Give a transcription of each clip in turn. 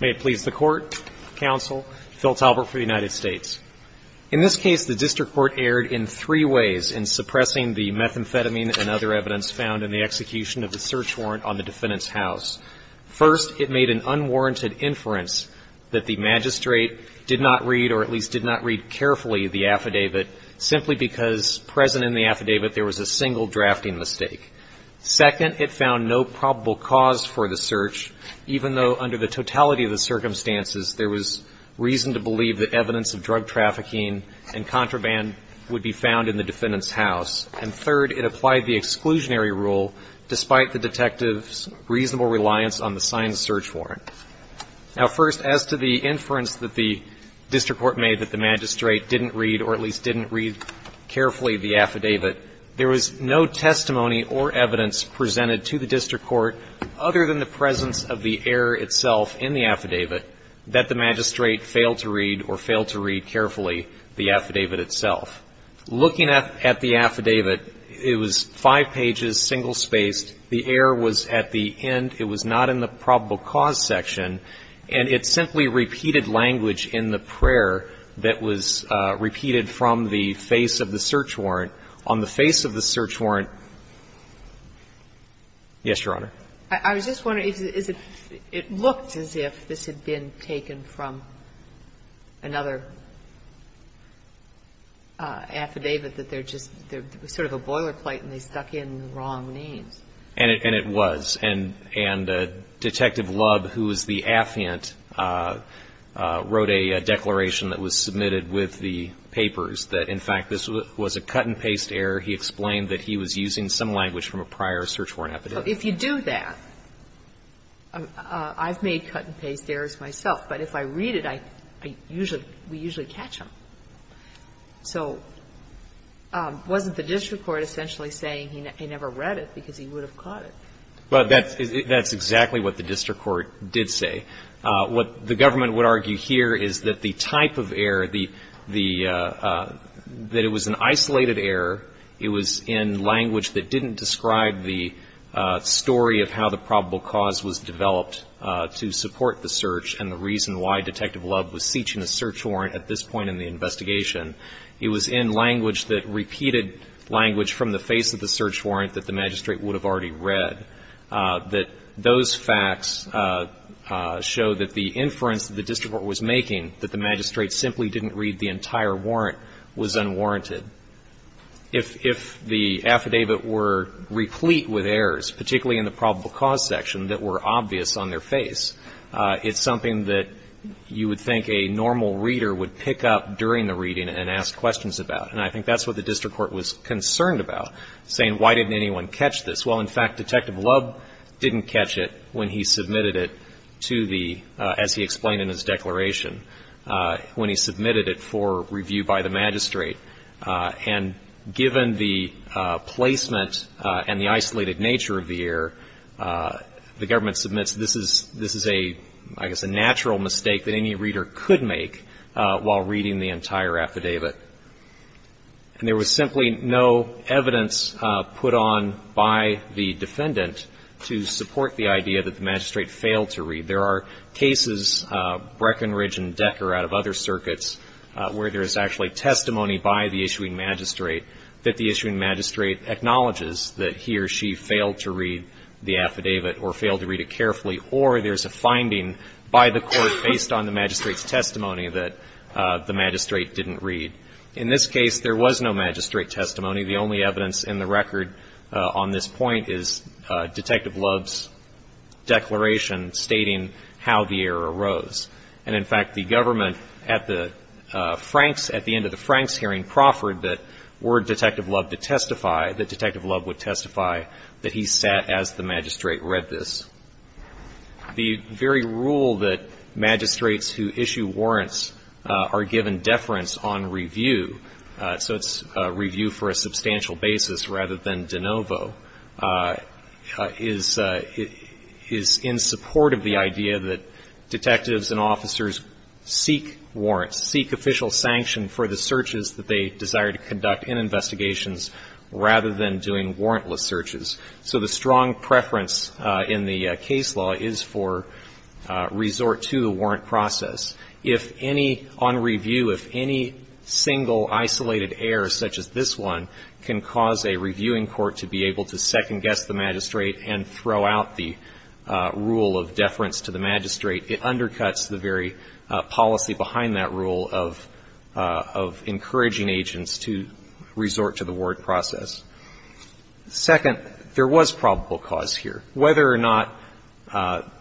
May it please the Court, Counsel, Phil Talbert for the United States. In this case, the District Court erred in three ways in suppressing the methamphetamine and other evidence found in the execution of the search warrant on the defendant's house. First, it made an unwarranted inference that the magistrate did not read or at least did not read carefully the affidavit simply because present in the affidavit there was a single drafting mistake. Second, it found no probable cause for the search, even though under the totality of the circumstances there was reason to believe that evidence of drug trafficking and contraband would be found in the defendant's house. And third, it applied the exclusionary rule despite the detective's reasonable reliance on the signed search warrant. Now, first, as to the inference that the District Court made that the magistrate didn't read or at least didn't read carefully the affidavit, there was no testimony or evidence presented to the District Court other than the presence of the error itself in the affidavit that the magistrate failed to read or failed to read carefully the affidavit itself. Looking at the affidavit, it was five pages, single-spaced. The error was at the end. It was not in the probable cause section. And it simply repeated language in the prayer that was repeated from the face of the search warrant. On the face of the search warrant — yes, Your Honor. I was just wondering, is it — it looked as if this had been taken from another affidavit, that they're just — there was sort of a boilerplate and they stuck in the wrong names. And it was. And Detective Lubb, who was the affiant, wrote a declaration that was submitted with the papers that, in fact, this was a cut-and-paste error. He explained that he was using some language from a prior search warrant affidavit. If you do that, I've made cut-and-paste errors myself. But if I read it, I usually — we usually catch them. So wasn't the District Court essentially saying he never read it because he would have caught it? Well, that's exactly what the District Court did say. What the government would argue here is that the type of error, the — that it was an isolated error. It was in language that didn't describe the story of how the probable cause was developed to support the search and the reason why Detective Lubb was searching a search warrant at this point in the investigation. It was in language that repeated language from the face of the search warrant that the magistrate would have already read. That those facts show that the inference that the District Court was making, that the magistrate simply didn't read the entire warrant, was unwarranted. If the affidavit were replete with errors, particularly in the probable cause section, that were obvious on their face, it's something that you would think a normal reader would pick up during the reading and ask questions about. And I think that's what the District Court was concerned about, saying, why didn't anyone catch this? Well, in fact, Detective Lubb didn't catch it when he submitted it to the — as he explained in his declaration, when he submitted it for review by the magistrate. And given the placement and the isolated nature of the error, the government submits this is a — I guess a natural mistake that any reader could make while reading the entire affidavit. And there was simply no evidence put on by the defendant to support the idea that the magistrate failed to read. There are cases, Breckenridge and Decker out of other circuits, where there is actually testimony by the issuing magistrate that the issuing magistrate acknowledges that he or she failed to read the affidavit or failed to read it carefully, or there is a finding by the court based on the magistrate's testimony that the magistrate didn't read. In this case, there was no magistrate testimony. The only evidence in the record on this point is Detective Lubb's declaration stating how the error arose. And, in fact, the government at the Franks — at the end of the Franks hearing proffered that were Detective Lubb to testify, that Detective Lubb would testify that he sat as the magistrate read this. The very rule that magistrates who issue warrants are given deference on review — so it's review for a substantial basis rather than de novo — is in support of the idea that detectives and officers seek warrants, seek official sanction for the searches that they desire to conduct in investigations rather than doing warrantless searches. So the strong preference in the case law is for resort to the warrant process. If any — on review, if any single isolated error, such as this one, can cause a reviewing court to be able to second-guess the magistrate and throw out the rule of deference to the magistrate, it undercuts the very policy behind that rule of encouraging agents to resort to the warrant process. Second, there was probable cause here. Whether or not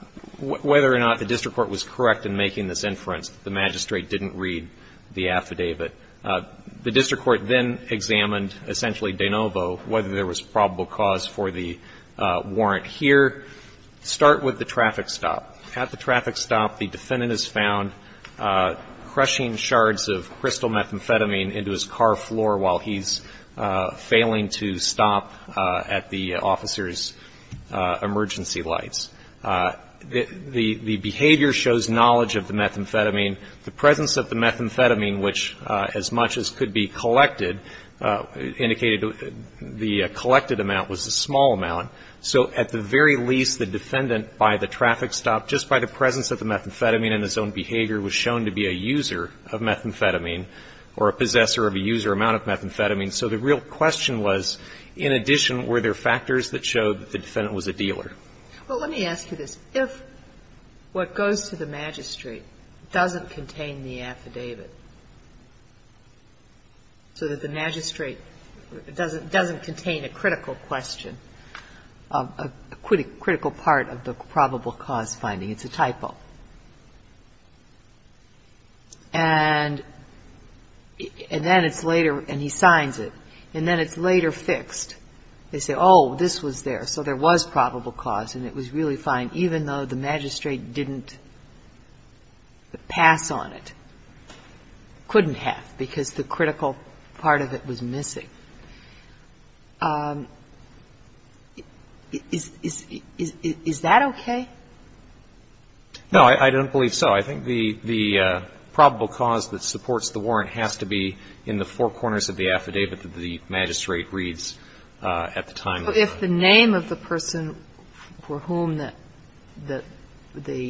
— whether or not the district court was correct in making this inference that the magistrate didn't read the affidavit, the district court then examined, essentially de novo, whether there was probable cause for the warrant here. Start with the traffic stop. At the traffic stop, the defendant is found crushing shards of crystal methamphetamine into his car floor while he's failing to stop at the officer's emergency lights. The behavior shows knowledge of the methamphetamine. The presence of the methamphetamine, which as much as could be collected, indicated the collected amount was a small amount. So at the very least, the defendant, by the traffic stop, just by the presence of the methamphetamine in his own behavior, was shown to be a user of methamphetamine or a possessor of a user amount of methamphetamine. So the real question was, in addition, were there factors that showed that the defendant was a dealer? Well, let me ask you this. If what goes to the magistrate doesn't contain the affidavit, so that the magistrate doesn't contain a critical question, a critical part of the probable cause finding, it's a typo. And then it's later, and he signs it. And then it's later fixed. They say, oh, this was there. So there was probable cause, and it was really fine, even though the magistrate didn't pass on it. Couldn't have, because the critical part of it was missing. Is that okay? No, I don't believe so. I think the probable cause that supports the warrant has to be in the four corners of the affidavit that the magistrate reads at the time. So if the name of the person for whom the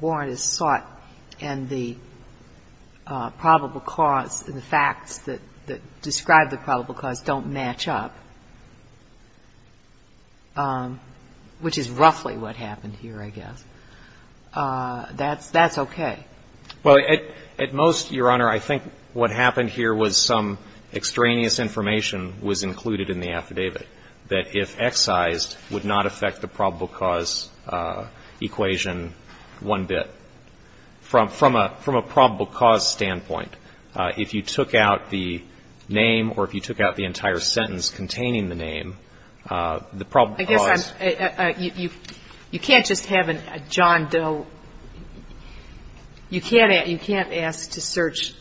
warrant is sought and the probable cause and the facts that describe the probable cause don't match up, which is roughly what happened here, I guess, that's okay. Well, at most, Your Honor, I think what happened here was some extraneous information was included in the affidavit that if excised would not affect the probable cause standpoint. If you took out the name or if you took out the entire sentence containing the name, the probable cause You can't just have a John Doe. You can't ask to search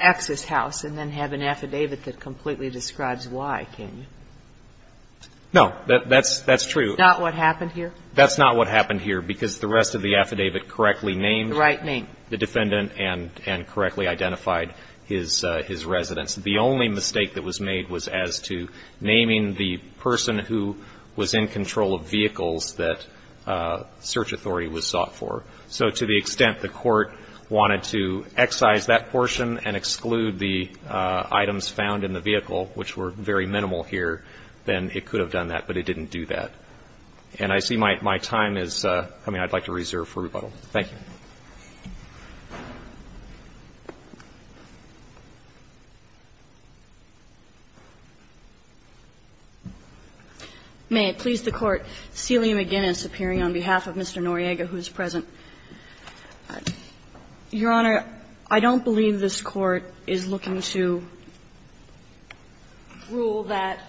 X's house and then have an affidavit that completely describes Y, can you? No, that's true. That's not what happened here? That's not what happened here, because the rest of the affidavit correctly named the defendant and correctly identified his residence. The only mistake that was made was as to naming the person who was in control of vehicles that search authority was sought for. So to the extent the court wanted to excise that portion and exclude the items found in the vehicle, which were very minimal here, then it could have done that, but it didn't do that. And I see my time is coming. I'd like to reserve for rebuttal. Thank you. May it please the Court. Celia McGinnis appearing on behalf of Mr. Noriega, who is present. Your Honor, I don't believe this Court is looking to rule that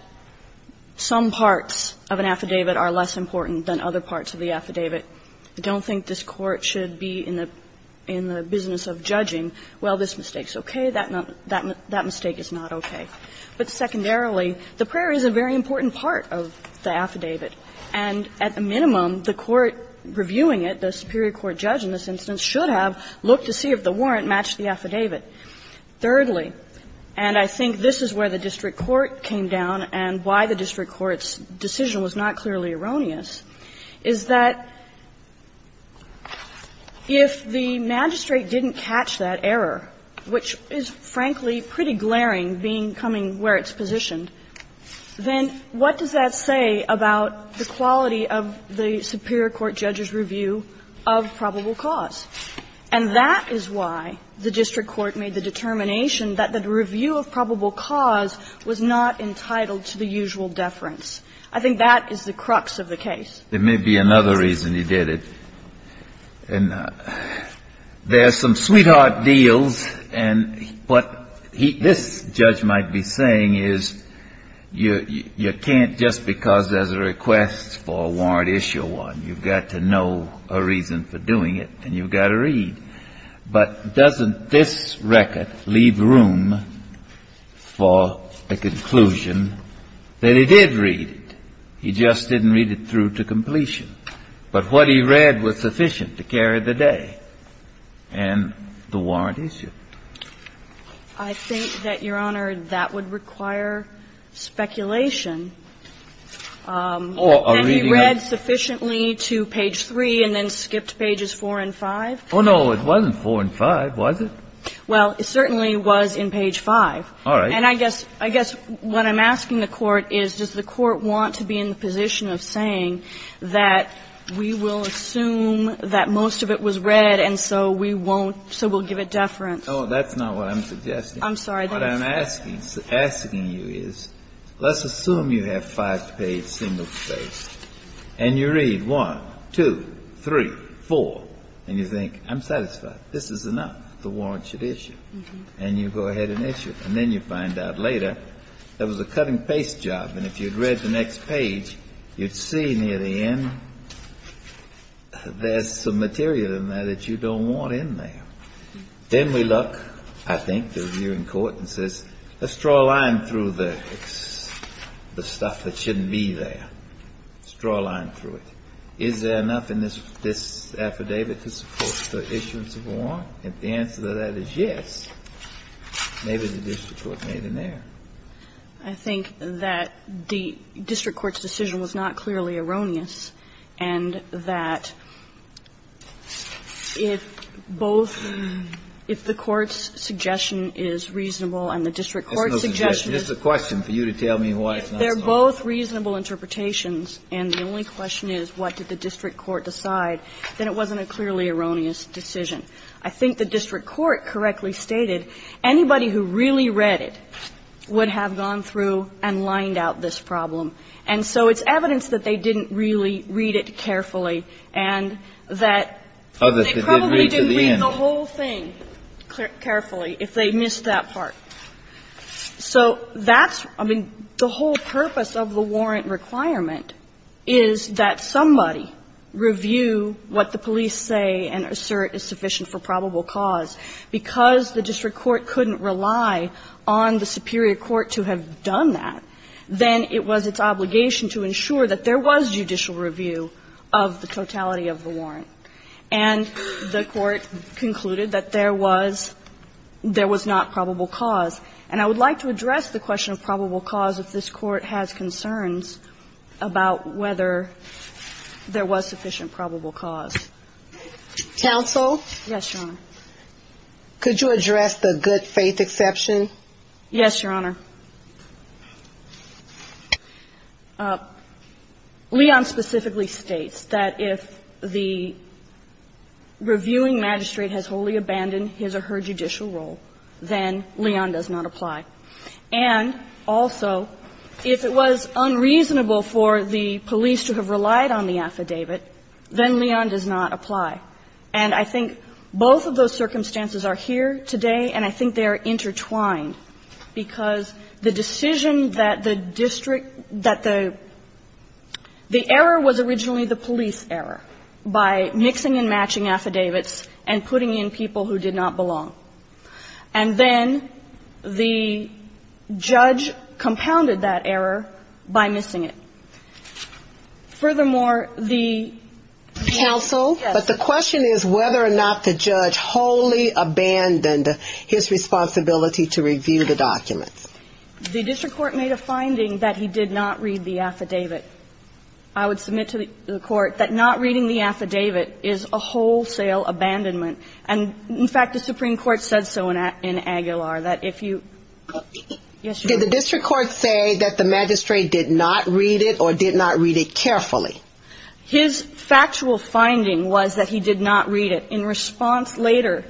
some parts of an affidavit are less important than other parts of the affidavit. I don't think this Court should be in the business of judging, well, this mistake is okay, that mistake is not okay. But secondarily, the prayer is a very important part of the affidavit. And at the minimum, the Court reviewing it, the superior court judge in this instance, should have looked to see if the warrant matched the affidavit. Thirdly, and I think this is where the district court came down and why the district court's decision was not clearly erroneous, is that if the magistrate didn't catch that error, which is frankly pretty glaring, being coming where it's positioned, then what does that say about the quality of the superior court judge's review of probable cause? And that is why the district court made the determination that the review of probable cause was not entitled to the usual deference. I think that is the crux of the case. There may be another reason he did it. There are some sweetheart deals, and what this judge might be saying is you can't just because there's a request for a warrant issue one, you've got to know a reason for doing it and you've got to read. But doesn't this record leave room for the conclusion that he did read it? He just didn't read it through to completion. But what he read was sufficient to carry the day and the warrant issue. I think that, Your Honor, that would require speculation. Or a reading of it. That he read sufficiently to page 3 and then skipped pages 4 and 5. Oh, no, it wasn't 4 and 5, was it? Well, it certainly was in page 5. All right. And I guess what I'm asking the Court is, does the Court want to be in the position of saying that we will assume that most of it was read and so we won't, so we'll give it deference? Oh, that's not what I'm suggesting. I'm sorry. What I'm asking you is, let's assume you have five-page single space and you read 1, 2, 3, 4, and you think, I'm satisfied. This is enough. The warrant should issue. And you go ahead and issue it. And then you find out later, that was a cutting-paste job. And if you'd read the next page, you'd see near the end, there's some material in there that you don't want in there. Then we look, I think, at you in court, and says, let's draw a line through the stuff that shouldn't be there. Let's draw a line through it. Is there enough in this affidavit to support the issuance of a warrant? If the answer to that is yes, maybe the district court made an error. I think that the district court's decision was not clearly erroneous and that if both the court's suggestion is reasonable and the district court's suggestion is reasonable. That's no suggestion. That's a question for you to tell me why it's not reasonable. They're both reasonable interpretations. And the only question is, what did the district court decide? Then it wasn't a clearly erroneous decision. I think the district court correctly stated anybody who really read it would have gone through and lined out this problem. And so it's evidence that they didn't really read it carefully and that they probably didn't read the whole thing carefully if they missed that part. So that's, I mean, the whole purpose of the warrant requirement is that somebody review what the police say and assert is sufficient for probable cause. Because the district court couldn't rely on the superior court to have done that, then it was its obligation to ensure that there was judicial review of the totality of the warrant. And the court concluded that there was not probable cause. And I would like to address the question of probable cause if this Court has concerns about whether there was sufficient probable cause. Counsel? Yes, Your Honor. Could you address the good faith exception? Yes, Your Honor. Leon specifically states that if the reviewing magistrate has wholly abandoned his or her judicial role, then Leon does not apply. And also, if it was unreasonable for the police to have relied on the affidavit, then Leon does not apply. And I think both of those circumstances are here today, and I think they are intertwined because the decision that the district, that the, the error was originally the police error by mixing and matching affidavits and putting in people who did not belong. And then the judge compounded that error by missing it. Furthermore, the counsel. Yes. But the question is whether or not the judge wholly abandoned his responsibility to review the documents. The district court made a finding that he did not read the affidavit. I would submit to the court that not reading the affidavit is a wholesale abandonment. And, in fact, the Supreme Court said so in Aguilar, that if you. Yes, Your Honor. Did the district court say that the magistrate did not read it or did not read it carefully? His factual finding was that he did not read it. In response later,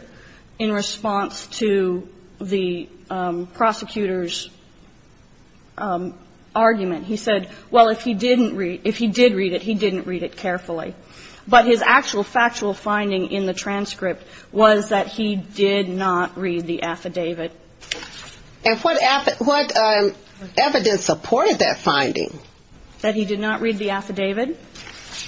in response to the prosecutor's argument, he said, well, if he didn't read, if he did read it, he didn't read it carefully. But his actual factual finding in the transcript was that he did not read the affidavit. And what, what evidence supported that finding? That he did not read the affidavit,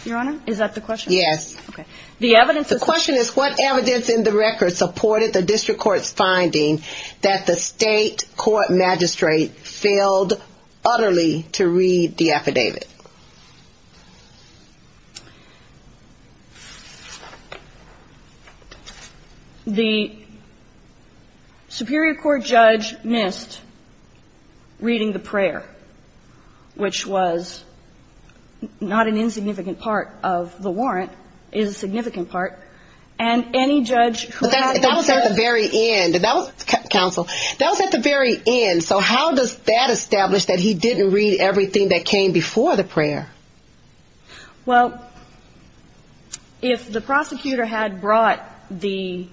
Your Honor? Is that the question? Yes. Okay. The evidence. The question is, what evidence in the record supported the district court's finding that the state court magistrate failed utterly to read the affidavit? The Superior Court judge missed reading the prayer, which was not an insignificant part of the warrant, is a significant part. And any judge who had. That was at the very end. That was, counsel, that was at the very end. So how does that establish that he didn't read everything that came before the prayer? Well, if the prosecutor had brought the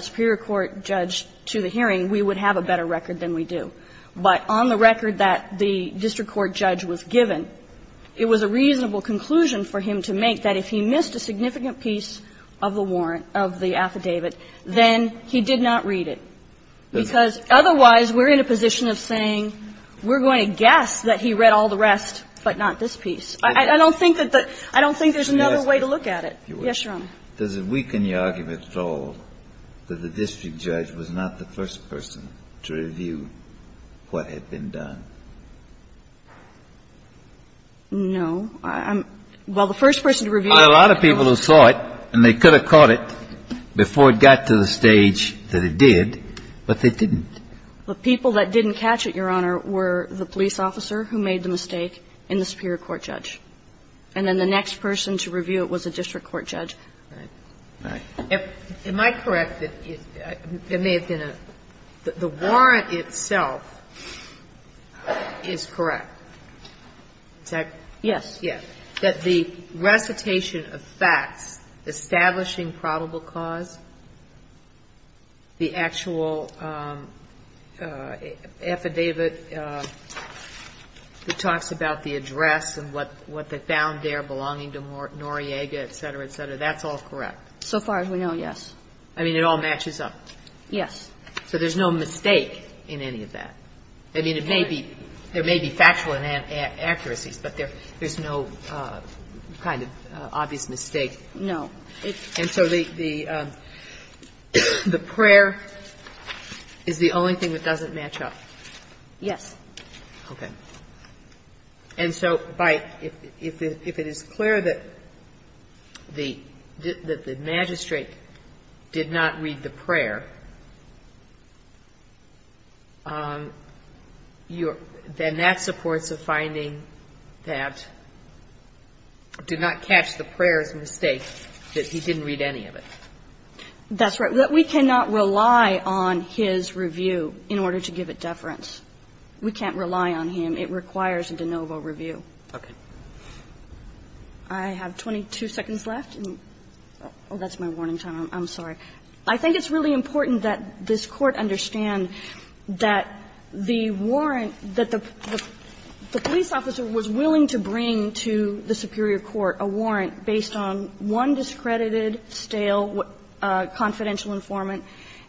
Superior Court judge to the hearing, we would have a better record than we do. But on the record that the district court judge was given, it was a reasonable conclusion for him to make that if he missed a significant piece of the warrant of the affidavit, then he did not read it. Because otherwise, we're in a position of saying we're going to guess that he read all the rest, but not this piece. I don't think that there's another way to look at it. Yes, Your Honor. Does it weaken the argument at all that the district judge was not the first person to review what had been done? No. Well, the first person to review it was. There were a lot of people who saw it, and they could have caught it before it got to the stage that it did, but they didn't. The people that didn't catch it, Your Honor, were the police officer who made the mistake and the Superior Court judge. And then the next person to review it was the district court judge. Right. Right. Am I correct that it may have been a the warrant itself? Is correct. Is that correct? Yes. Yes. That the recitation of facts establishing probable cause, the actual affidavit that talks about the address and what they found there belonging to Noriega, et cetera, et cetera, that's all correct? So far as we know, yes. I mean, it all matches up? Yes. So there's no mistake in any of that? I mean, it may be, there may be factual inaccuracies, but there's no kind of obvious mistake? No. And so the prayer is the only thing that doesn't match up? Yes. Okay. And so if it is clear that the magistrate did not read the prayer, then that supports a finding that did not catch the prayer's mistake, that he didn't read any of it. That's right. We cannot rely on his review in order to give it deference. We can't rely on him. It requires a de novo review. Okay. I have 22 seconds left. Oh, that's my warning time. I'm sorry. I think it's really important that this Court understand that the warrant that the police officer was willing to bring to the superior court, a warrant based on one discredited, stale, confidential informant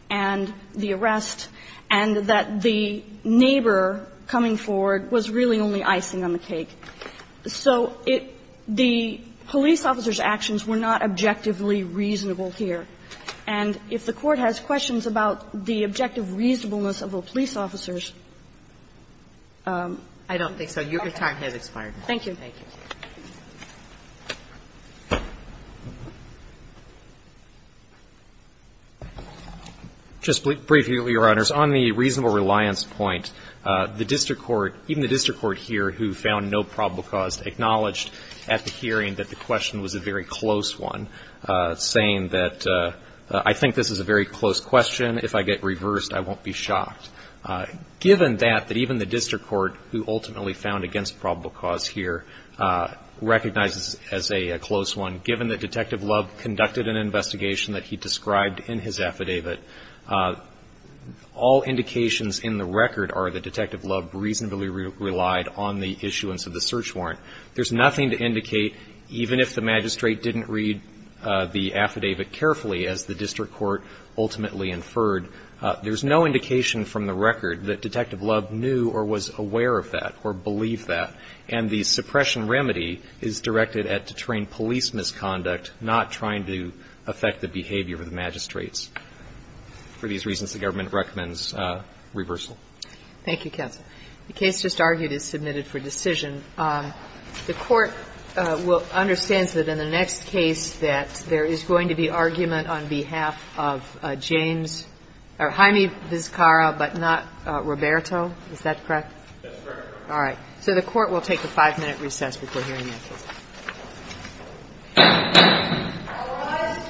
and the arrest, and that the neighbor coming forward was really only icing on the cake. So the police officer's actions were not objectively reasonable here. And if the Court has questions about the objective reasonableness of a police officer's ---- I don't think so. Your time has expired. Thank you. Thank you. Just briefly, Your Honors, on the reasonable reliance point, the district court, even the district court here who found no probable cause acknowledged at the hearing that the question was a very close one, saying that, I think this is a very close question. If I get reversed, I won't be shocked. Given that, that even the district court who ultimately found against probable cause here recognizes as a close one, given that Detective Love conducted an investigation that he described in his affidavit, all indications in the record are that Detective Love reasonably relied on the issuance of the search warrant. There's nothing to indicate, even if the magistrate didn't read the affidavit carefully as the district court ultimately inferred, there's no indication from the district court that Detective Love was involved. And the suppression remedy is directed at to train police misconduct, not trying to affect the behavior of the magistrates. For these reasons, the government recommends reversal. Thank you, counsel. The case just argued is submitted for decision. The Court will ---- understands that in the next case that there is going to be argument on behalf of James or Jaime Vizcarra, but not Roberto. Is that correct? That's correct, Your Honor. All right. So the Court will take a five-minute recess before hearing that case. All rise.